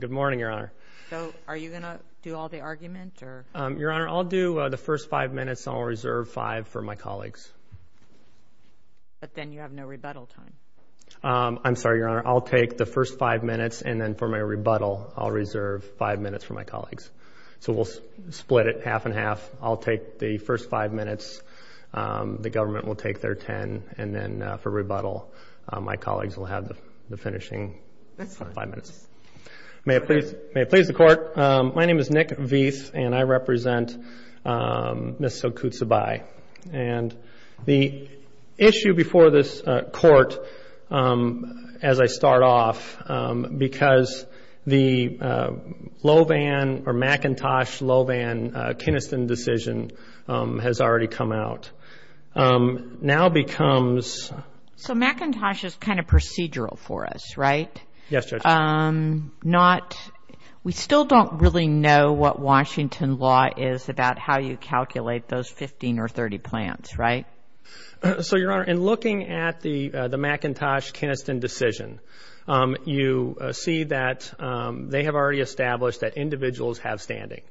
Good morning, Your Honor. So, are you going to do all the argument, or? Your Honor, I'll do the first five minutes, and I'll reserve five for my colleagues. But then you have no rebuttal time. I'm sorry, Your Honor. I'll take the first five minutes, and then for my rebuttal, I'll reserve five minutes for my colleagues. So we'll split it half and half. I'll take the first five minutes, the government will take their ten, and then for rebuttal, my colleagues will have the finishing five minutes. May it please the Court, my name is Nick Veith, and I represent Ms. Silkeutsabay. And the issue before this Court, as I start off, because the Low Van or McIntosh-Low Van-Kinniston decision has already come out, now becomes... So McIntosh is kind of procedural for us, right? Yes, Judge. We still don't really know what Washington law is about how you calculate those 15 or 30 plants, right? So, Your Honor, in looking at the McIntosh-Kinniston decision, you see that they have already established that individuals have standing.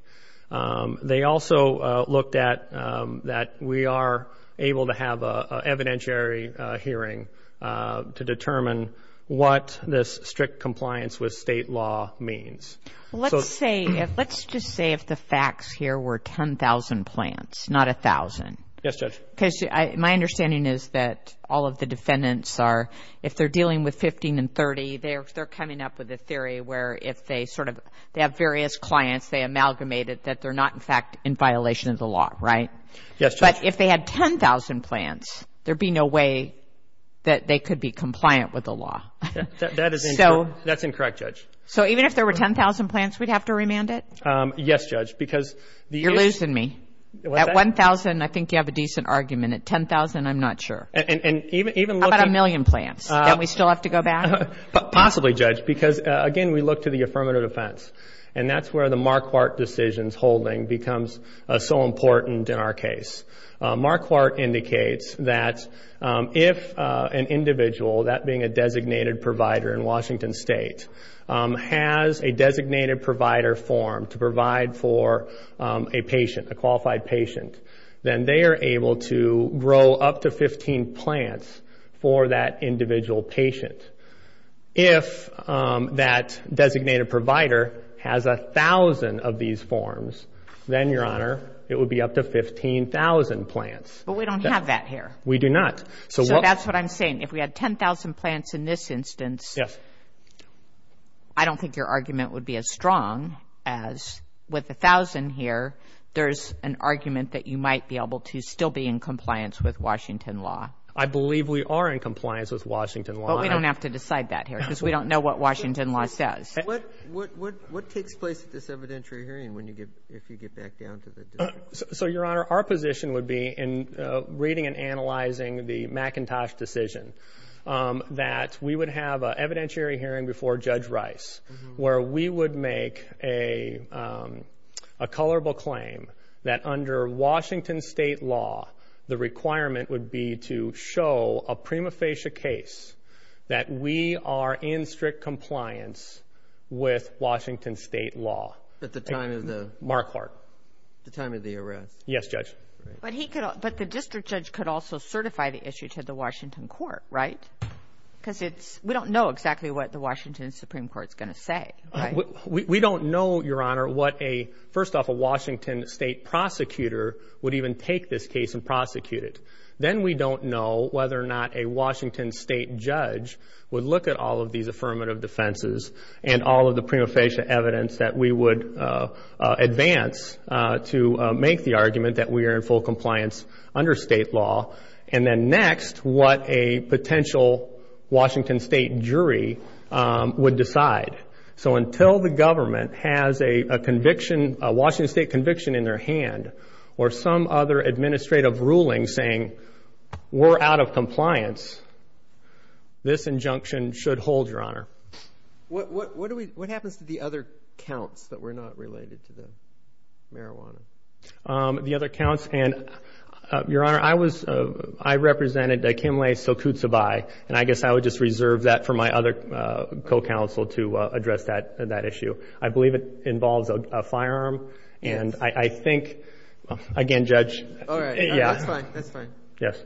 They also looked at that we are able to have an evidentiary hearing to determine what this strict compliance with state law means. Let's just say if the facts here were 10,000 plants, not 1,000. Yes, Judge. Because my understanding is that all of the defendants are, if they're dealing with 15 and 30, they're coming up with a theory where if they sort of, they have various clients, they amalgamate it, that they're not, in fact, in violation of the law, right? Yes, Judge. But if they had 10,000 plants, there'd be no way that they could be compliant with the law. That is incorrect, Judge. So even if there were 10,000 plants, we'd have to remand it? Yes, Judge, because... You're losing me. At 1,000, I think you have a decent argument. At 10,000, I'm not sure. And even looking... How about a million plants? Don't we still have to go back? Possibly, Judge, because, again, we look to the affirmative defense, and that's where the Marquardt decision's holding becomes so important in our case. Marquardt indicates that if an individual, that being a designated provider in Washington State, has a designated provider form to provide for a patient, a qualified patient, then they are able to grow up to 15 plants for that individual patient. If that designated provider has 1,000 of these forms, then, Your Honor, it would be up to 15,000 plants. But we don't have that here. We do not. So that's what I'm saying. If we had 10,000 plants in this instance, I don't think your argument would be as strong as with 1,000 here, there's an argument that you might be able to still be in compliance with Washington law. I believe we are in compliance with Washington law. But we don't have to decide that here because we don't know what Washington law says. What takes place at this evidentiary hearing if you get back down to the district? So, Your Honor, our position would be in reading and analyzing the McIntosh decision that we would have an evidentiary hearing before Judge Rice where we would make a colorable claim that under Washington state law, the requirement would be to show a prima facie case that we are in strict compliance with Washington state law. At the time of the? Marquardt. At the time of the arrest. Yes, Judge. But the district judge could also certify the issue to the Washington court, right? Because we don't know exactly what the Washington Supreme Court is going to say, right? We don't know, Your Honor, what a, first off, a Washington state prosecutor would even take this case and prosecute it. Then we don't know whether or not a Washington state judge would look at all of these affirmative defenses and all of the prima facie evidence that we would advance to make the argument that we are in full compliance under state law. And then next, what a potential Washington state jury would decide. So until the government has a conviction, a Washington state conviction in their hand, or some other administrative ruling saying we're out of compliance, this injunction should hold, Your Honor. What happens to the other counts that were not related to the marijuana? The other counts? And, Your Honor, I was, I represented Kim Lay-Sokutsabai, and I guess I would just reserve that for my other co-counsel to address that issue. I believe it involves a firearm, and I think, again, Judge. All right, that's fine, that's fine. Yes.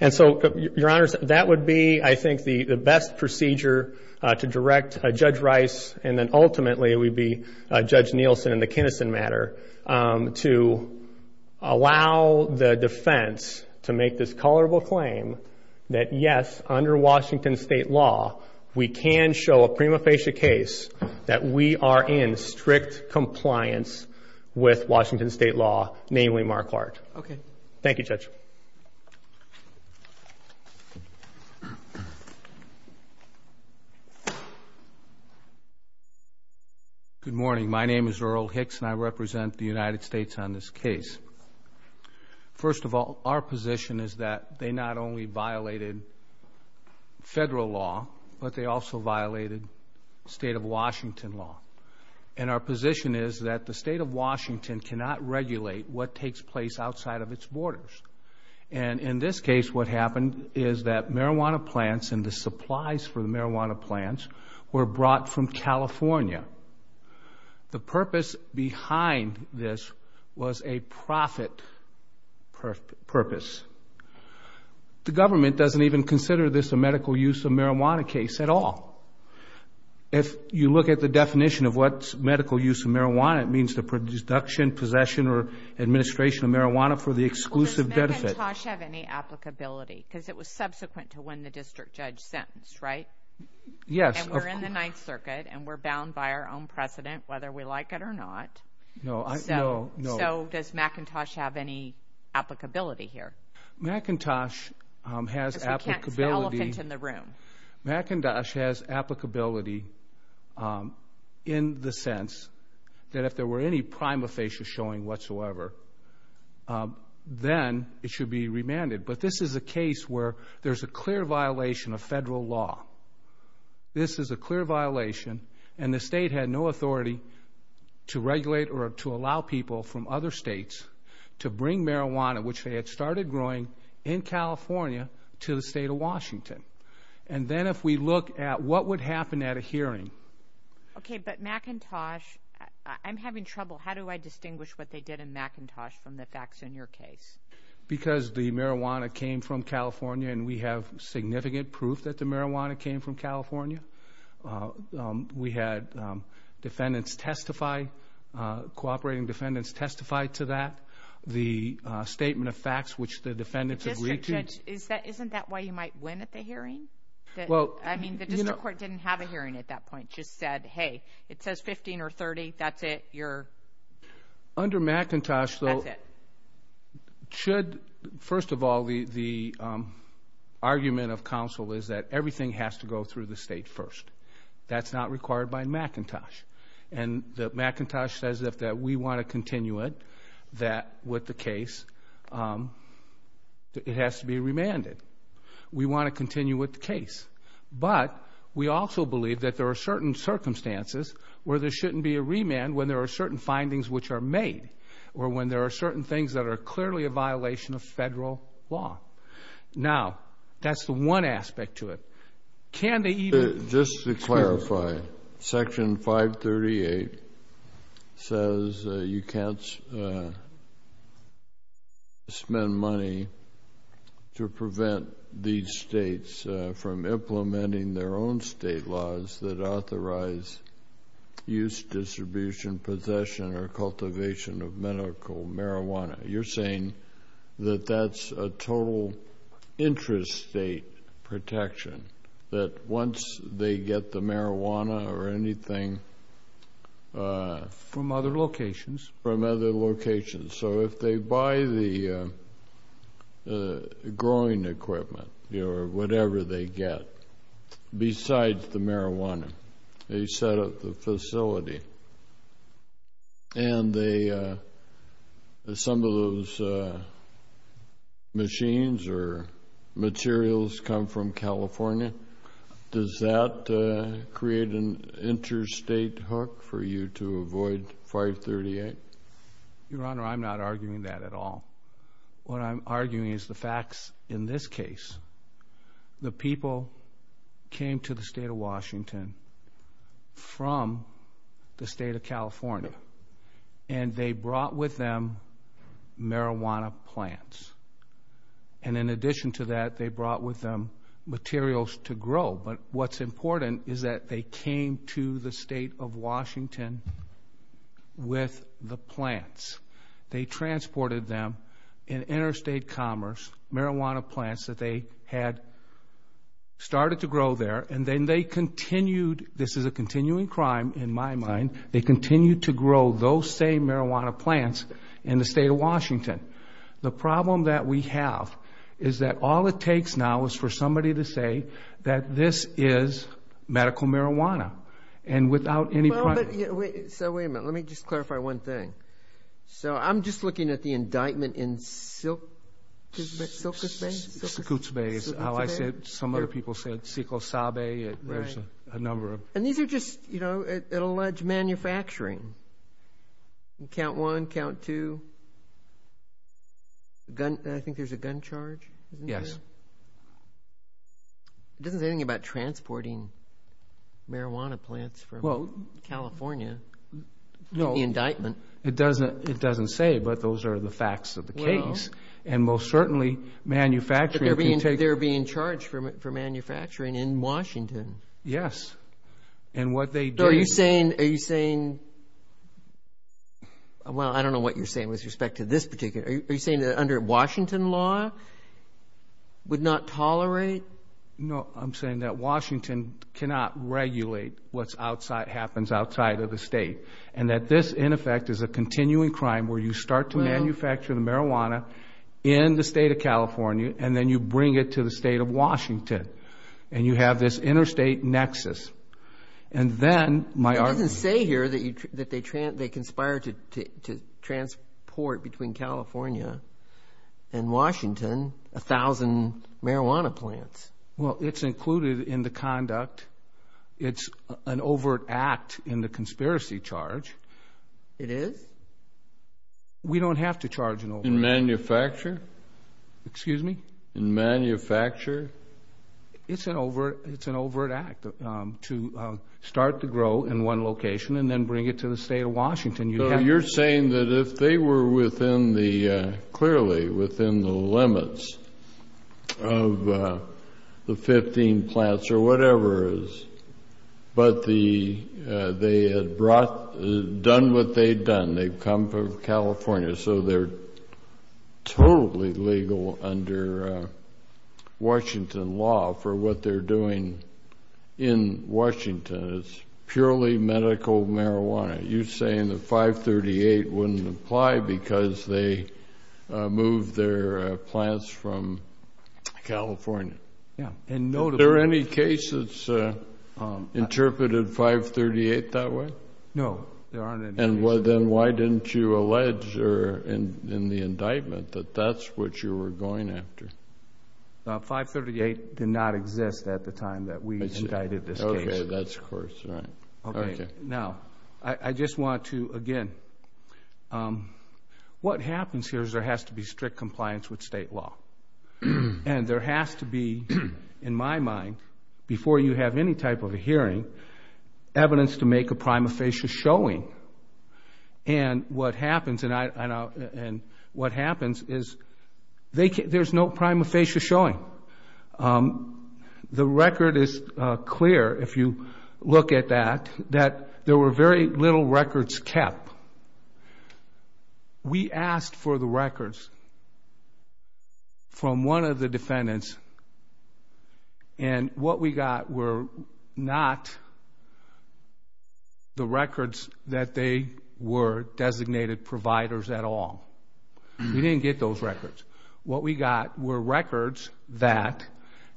And so, Your Honors, that would be, I think, the best procedure to direct Judge Rice, and then ultimately it would be Judge Nielsen in the Kinison matter, to allow the defense to make this colorable claim that, yes, under Washington state law, we can show a prima facie case that we are in strict compliance with Washington state law, namely Marquardt. Okay. Thank you, Judge. Good morning. My name is Earl Hicks, and I represent the United States on this case. First of all, our position is that they not only violated federal law, but they also violated state of Washington law. And our position is that the state of Washington cannot regulate what takes place outside of its borders. And in this case, what happened is that marijuana plants and the supplies for the marijuana plants were brought from California. The purpose behind this was a profit purpose. The government doesn't even consider this a medical use of marijuana case at all. If you look at the definition of what's medical use of marijuana, it means the production, possession, or administration of marijuana for the exclusive benefit. Does McIntosh have any applicability? Because it was subsequent to when the district judge sentenced, right? Yes. And we're in the Ninth Circuit, and we're bound by our own precedent, whether we like it or not. No. So does McIntosh have any applicability here? McIntosh has applicability. Because we can't see the elephant in the room. McIntosh has applicability in the sense that if there were any prima facie showing whatsoever, then it should be remanded. But this is a case where there's a clear violation of federal law. This is a clear violation, and the state had no authority to regulate or to allow people from other states to bring marijuana, which they had started growing, in California to the state of Washington. And then if we look at what would happen at a hearing. Okay, but McIntosh, I'm having trouble. How do I distinguish what they did in McIntosh from the facts in your case? Because the marijuana came from California, and we have significant proof that the marijuana came from California. We had defendants testify, cooperating defendants testify to that. We have the statement of facts, which the defendants agreed to. Isn't that why you might win at the hearing? I mean, the district court didn't have a hearing at that point, just said, hey, it says 15 or 30, that's it. Under McIntosh, though, first of all, the argument of counsel is that everything has to go through the state first. That's not required by McIntosh. And McIntosh says that we want to continue it, that with the case, it has to be remanded. We want to continue with the case. But we also believe that there are certain circumstances where there shouldn't be a remand when there are certain findings which are made or when there are certain things that are clearly a violation of federal law. Now, that's the one aspect to it. Just to clarify, Section 538 says you can't spend money to prevent these states from implementing their own state laws that authorize use, distribution, possession, or cultivation of medical marijuana. You're saying that that's a total interest state protection, that once they get the marijuana or anything from other locations, so if they buy the growing equipment or whatever they get besides the marijuana, they set up the facility and they assemble those machines or materials come from California, does that create an interstate hook for you to avoid 538? Your Honor, I'm not arguing that at all. What I'm arguing is the facts in this case. The people came to the State of Washington from the State of California and they brought with them marijuana plants. And in addition to that, they brought with them materials to grow. But what's important is that they came to the State of Washington with the plants. They transported them in interstate commerce, marijuana plants that they had started to grow there, and then they continued, this is a continuing crime in my mind, they continued to grow those same marijuana plants in the State of Washington. The problem that we have is that all it takes now is for somebody to say that this is medical marijuana. So wait a minute, let me just clarify one thing. So I'm just looking at the indictment in Silkus Bay? Silkus Bay is how I said it. Some other people said Sequel Sabe, there's a number of… And these are just, you know, at alleged manufacturing. Count one, count two. I think there's a gun charge, isn't there? Yes. It doesn't say anything about transporting marijuana plants from California to the indictment. No, it doesn't say, but those are the facts of the case. And most certainly manufacturing can take… But they're being charged for manufacturing in Washington. Yes, and what they did… So are you saying… Well, I don't know what you're saying with respect to this particular… Are you saying that under Washington law would not tolerate? No, I'm saying that Washington cannot regulate what happens outside of the state and that this, in effect, is a continuing crime where you start to manufacture the marijuana in the State of California and then you bring it to the State of Washington and you have this interstate nexus. And then my argument… It doesn't say here that they conspired to transport between California and Washington a thousand marijuana plants. Well, it's included in the conduct. It's an overt act in the conspiracy charge. It is? We don't have to charge an overt act. In manufacture? Excuse me? In manufacture? It's an overt act to start to grow in one location and then bring it to the State of Washington. So you're saying that if they were within the – clearly within the limits of the 15 plants or whatever it is, but they had brought – done what they'd done. They've come from California, so they're totally legal under Washington law for what they're doing in Washington. It's purely medical marijuana. You're saying that 538 wouldn't apply because they moved their plants from California. Yeah. Are there any cases interpreted 538 that way? No, there aren't any. And then why didn't you allege in the indictment that that's what you were going after? 538 did not exist at the time that we indicted this case. Okay, that's of course right. Now, I just want to, again, what happens here is there has to be strict compliance with State law. And there has to be, in my mind, before you have any type of a hearing, evidence to make a prima facie showing. And what happens is there's no prima facie showing. The record is clear, if you look at that, that there were very little records kept. We asked for the records from one of the defendants, and what we got were not the records that they were designated providers at all. We didn't get those records. What we got were records that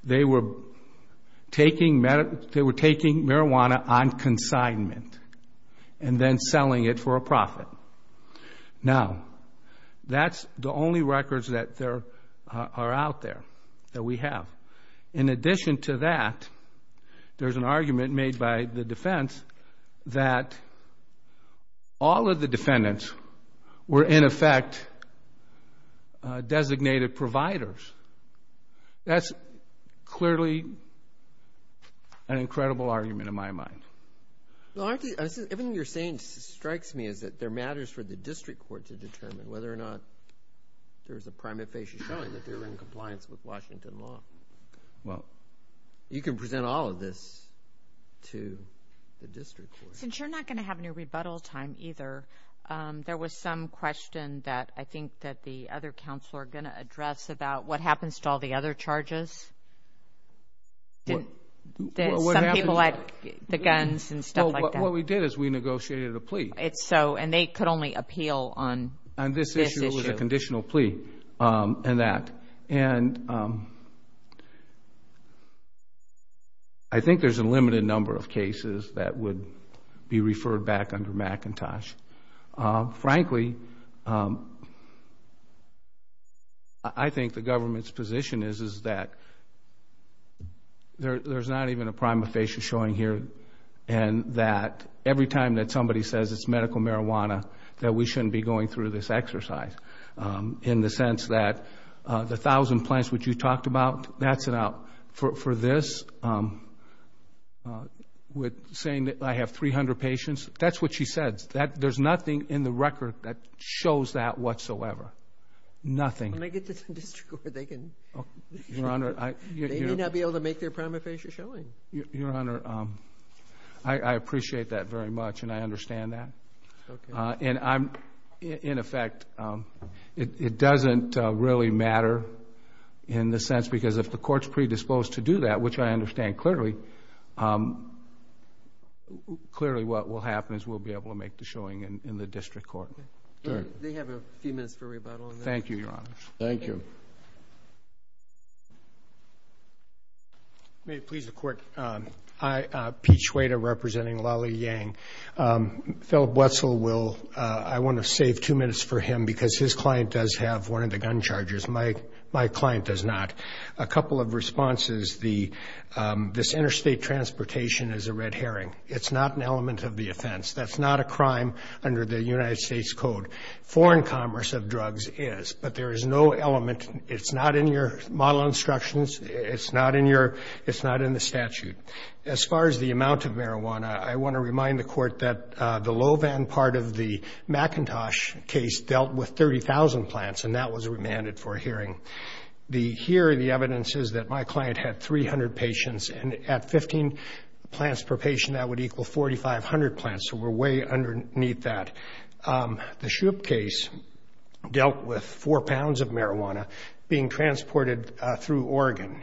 they were taking marijuana on consignment and then selling it for a profit. Now, that's the only records that are out there that we have. In addition to that, there's an argument made by the defense that all of the defendants were, in effect, designated providers. That's clearly an incredible argument in my mind. Everything you're saying strikes me as that there matters for the district court to determine whether or not there's a prima facie showing that they're in compliance with Washington law. Well, you can present all of this to the district court. Since you're not going to have any rebuttal time either, there was some question that I think that the other counsel are going to address about what happens to all the other charges. Some people had the guns and stuff like that. Well, what we did is we negotiated a plea. They could only appeal on this issue. On this issue, it was a conditional plea. I think there's a limited number of cases that would be referred back under McIntosh. Frankly, I think the government's position is that there's not even a prima facie showing here and that every time that somebody says it's medical marijuana, that we shouldn't be going through this exercise in the sense that the 1,000 plants which you talked about, that's an out. For this, with saying that I have 300 patients, that's what she said. There's nothing in the record that shows that whatsoever, nothing. Let me get to the district court. They may not be able to make their prima facie showing. Your Honor, I appreciate that very much, and I understand that. In effect, it doesn't really matter in the sense because if the court's predisposed to do that, which I understand clearly, clearly what will happen is we'll be able to make the showing in the district court. They have a few minutes for rebuttal. Thank you, Your Honor. Thank you. Thank you. May it please the Court, Pete Schweda representing Lally Yang. Fellow Buesel, I want to save two minutes for him because his client does have one of the gun charges. My client does not. A couple of responses, this interstate transportation is a red herring. It's not an element of the offense. That's not a crime under the United States Code. Foreign commerce of drugs is, but there is no element. It's not in your model instructions. It's not in the statute. As far as the amount of marijuana, I want to remind the Court that the low van part of the McIntosh case dealt with 30,000 plants, and that was remanded for hearing. Here, the evidence is that my client had 300 patients, and at 15 plants per patient, that would equal 4,500 plants, so we're way underneath that. The Shoup case dealt with four pounds of marijuana being transported through Oregon.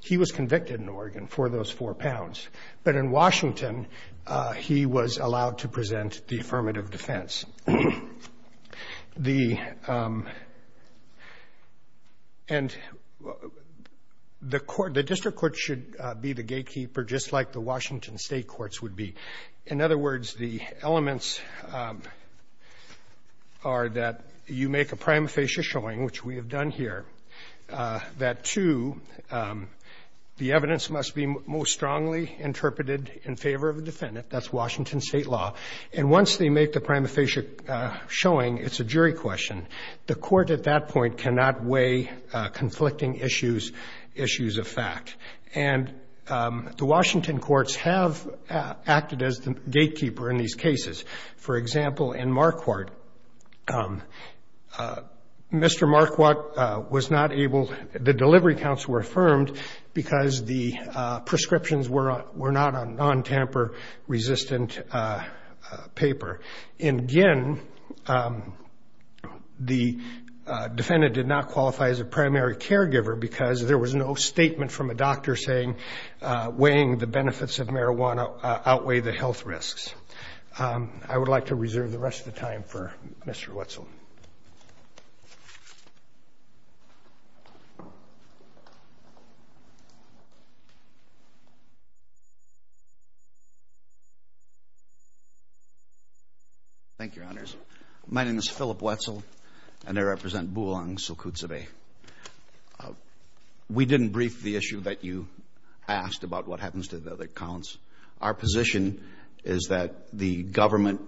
He was convicted in Oregon for those four pounds, but in Washington he was allowed to present the affirmative defense. The District Court should be the gatekeeper just like the Washington State Courts would be. In other words, the elements are that you make a prima facie showing, which we have done here, that two, the evidence must be most strongly interpreted in favor of the defendant. That's Washington State law. And once they make the prima facie showing, it's a jury question. The Court at that point cannot weigh conflicting issues, issues of fact. And the Washington Courts have acted as the gatekeeper in these cases. For example, in Marquardt, Mr. Marquardt was not able, the delivery counts were affirmed because the prescriptions were not a non-tamper-resistant paper. In Ginn, the defendant did not qualify as a primary caregiver because there was no statement from a doctor saying weighing the benefits of marijuana outweigh the health risks. I would like to reserve the rest of the time for Mr. Wetzel. My name is Philip Wetzel, and I represent Bulang Sokudzebe. We didn't brief the issue that you asked about what happens to the other counts. Our position is that the government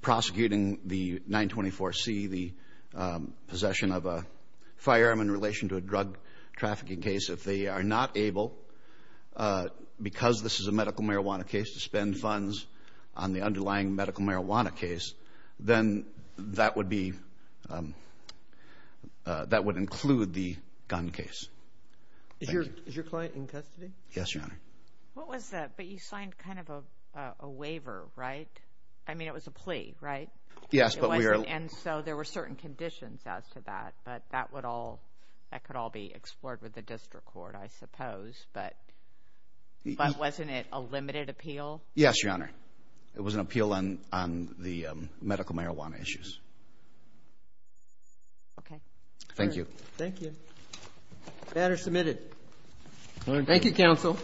prosecuting the 924C, the possession of a firearm in relation to a drug trafficking case, if they are not able, because this is a medical marijuana case, to spend funds on the underlying medical marijuana case, then that would include the gun case. Thank you. Is your client in custody? Yes, Your Honor. What was that? But you signed kind of a waiver, right? I mean, it was a plea, right? Yes, but we are— But wasn't it a limited appeal? Yes, Your Honor. It was an appeal on the medical marijuana issues. Okay. Thank you. The matter is submitted. Thank you, counsel.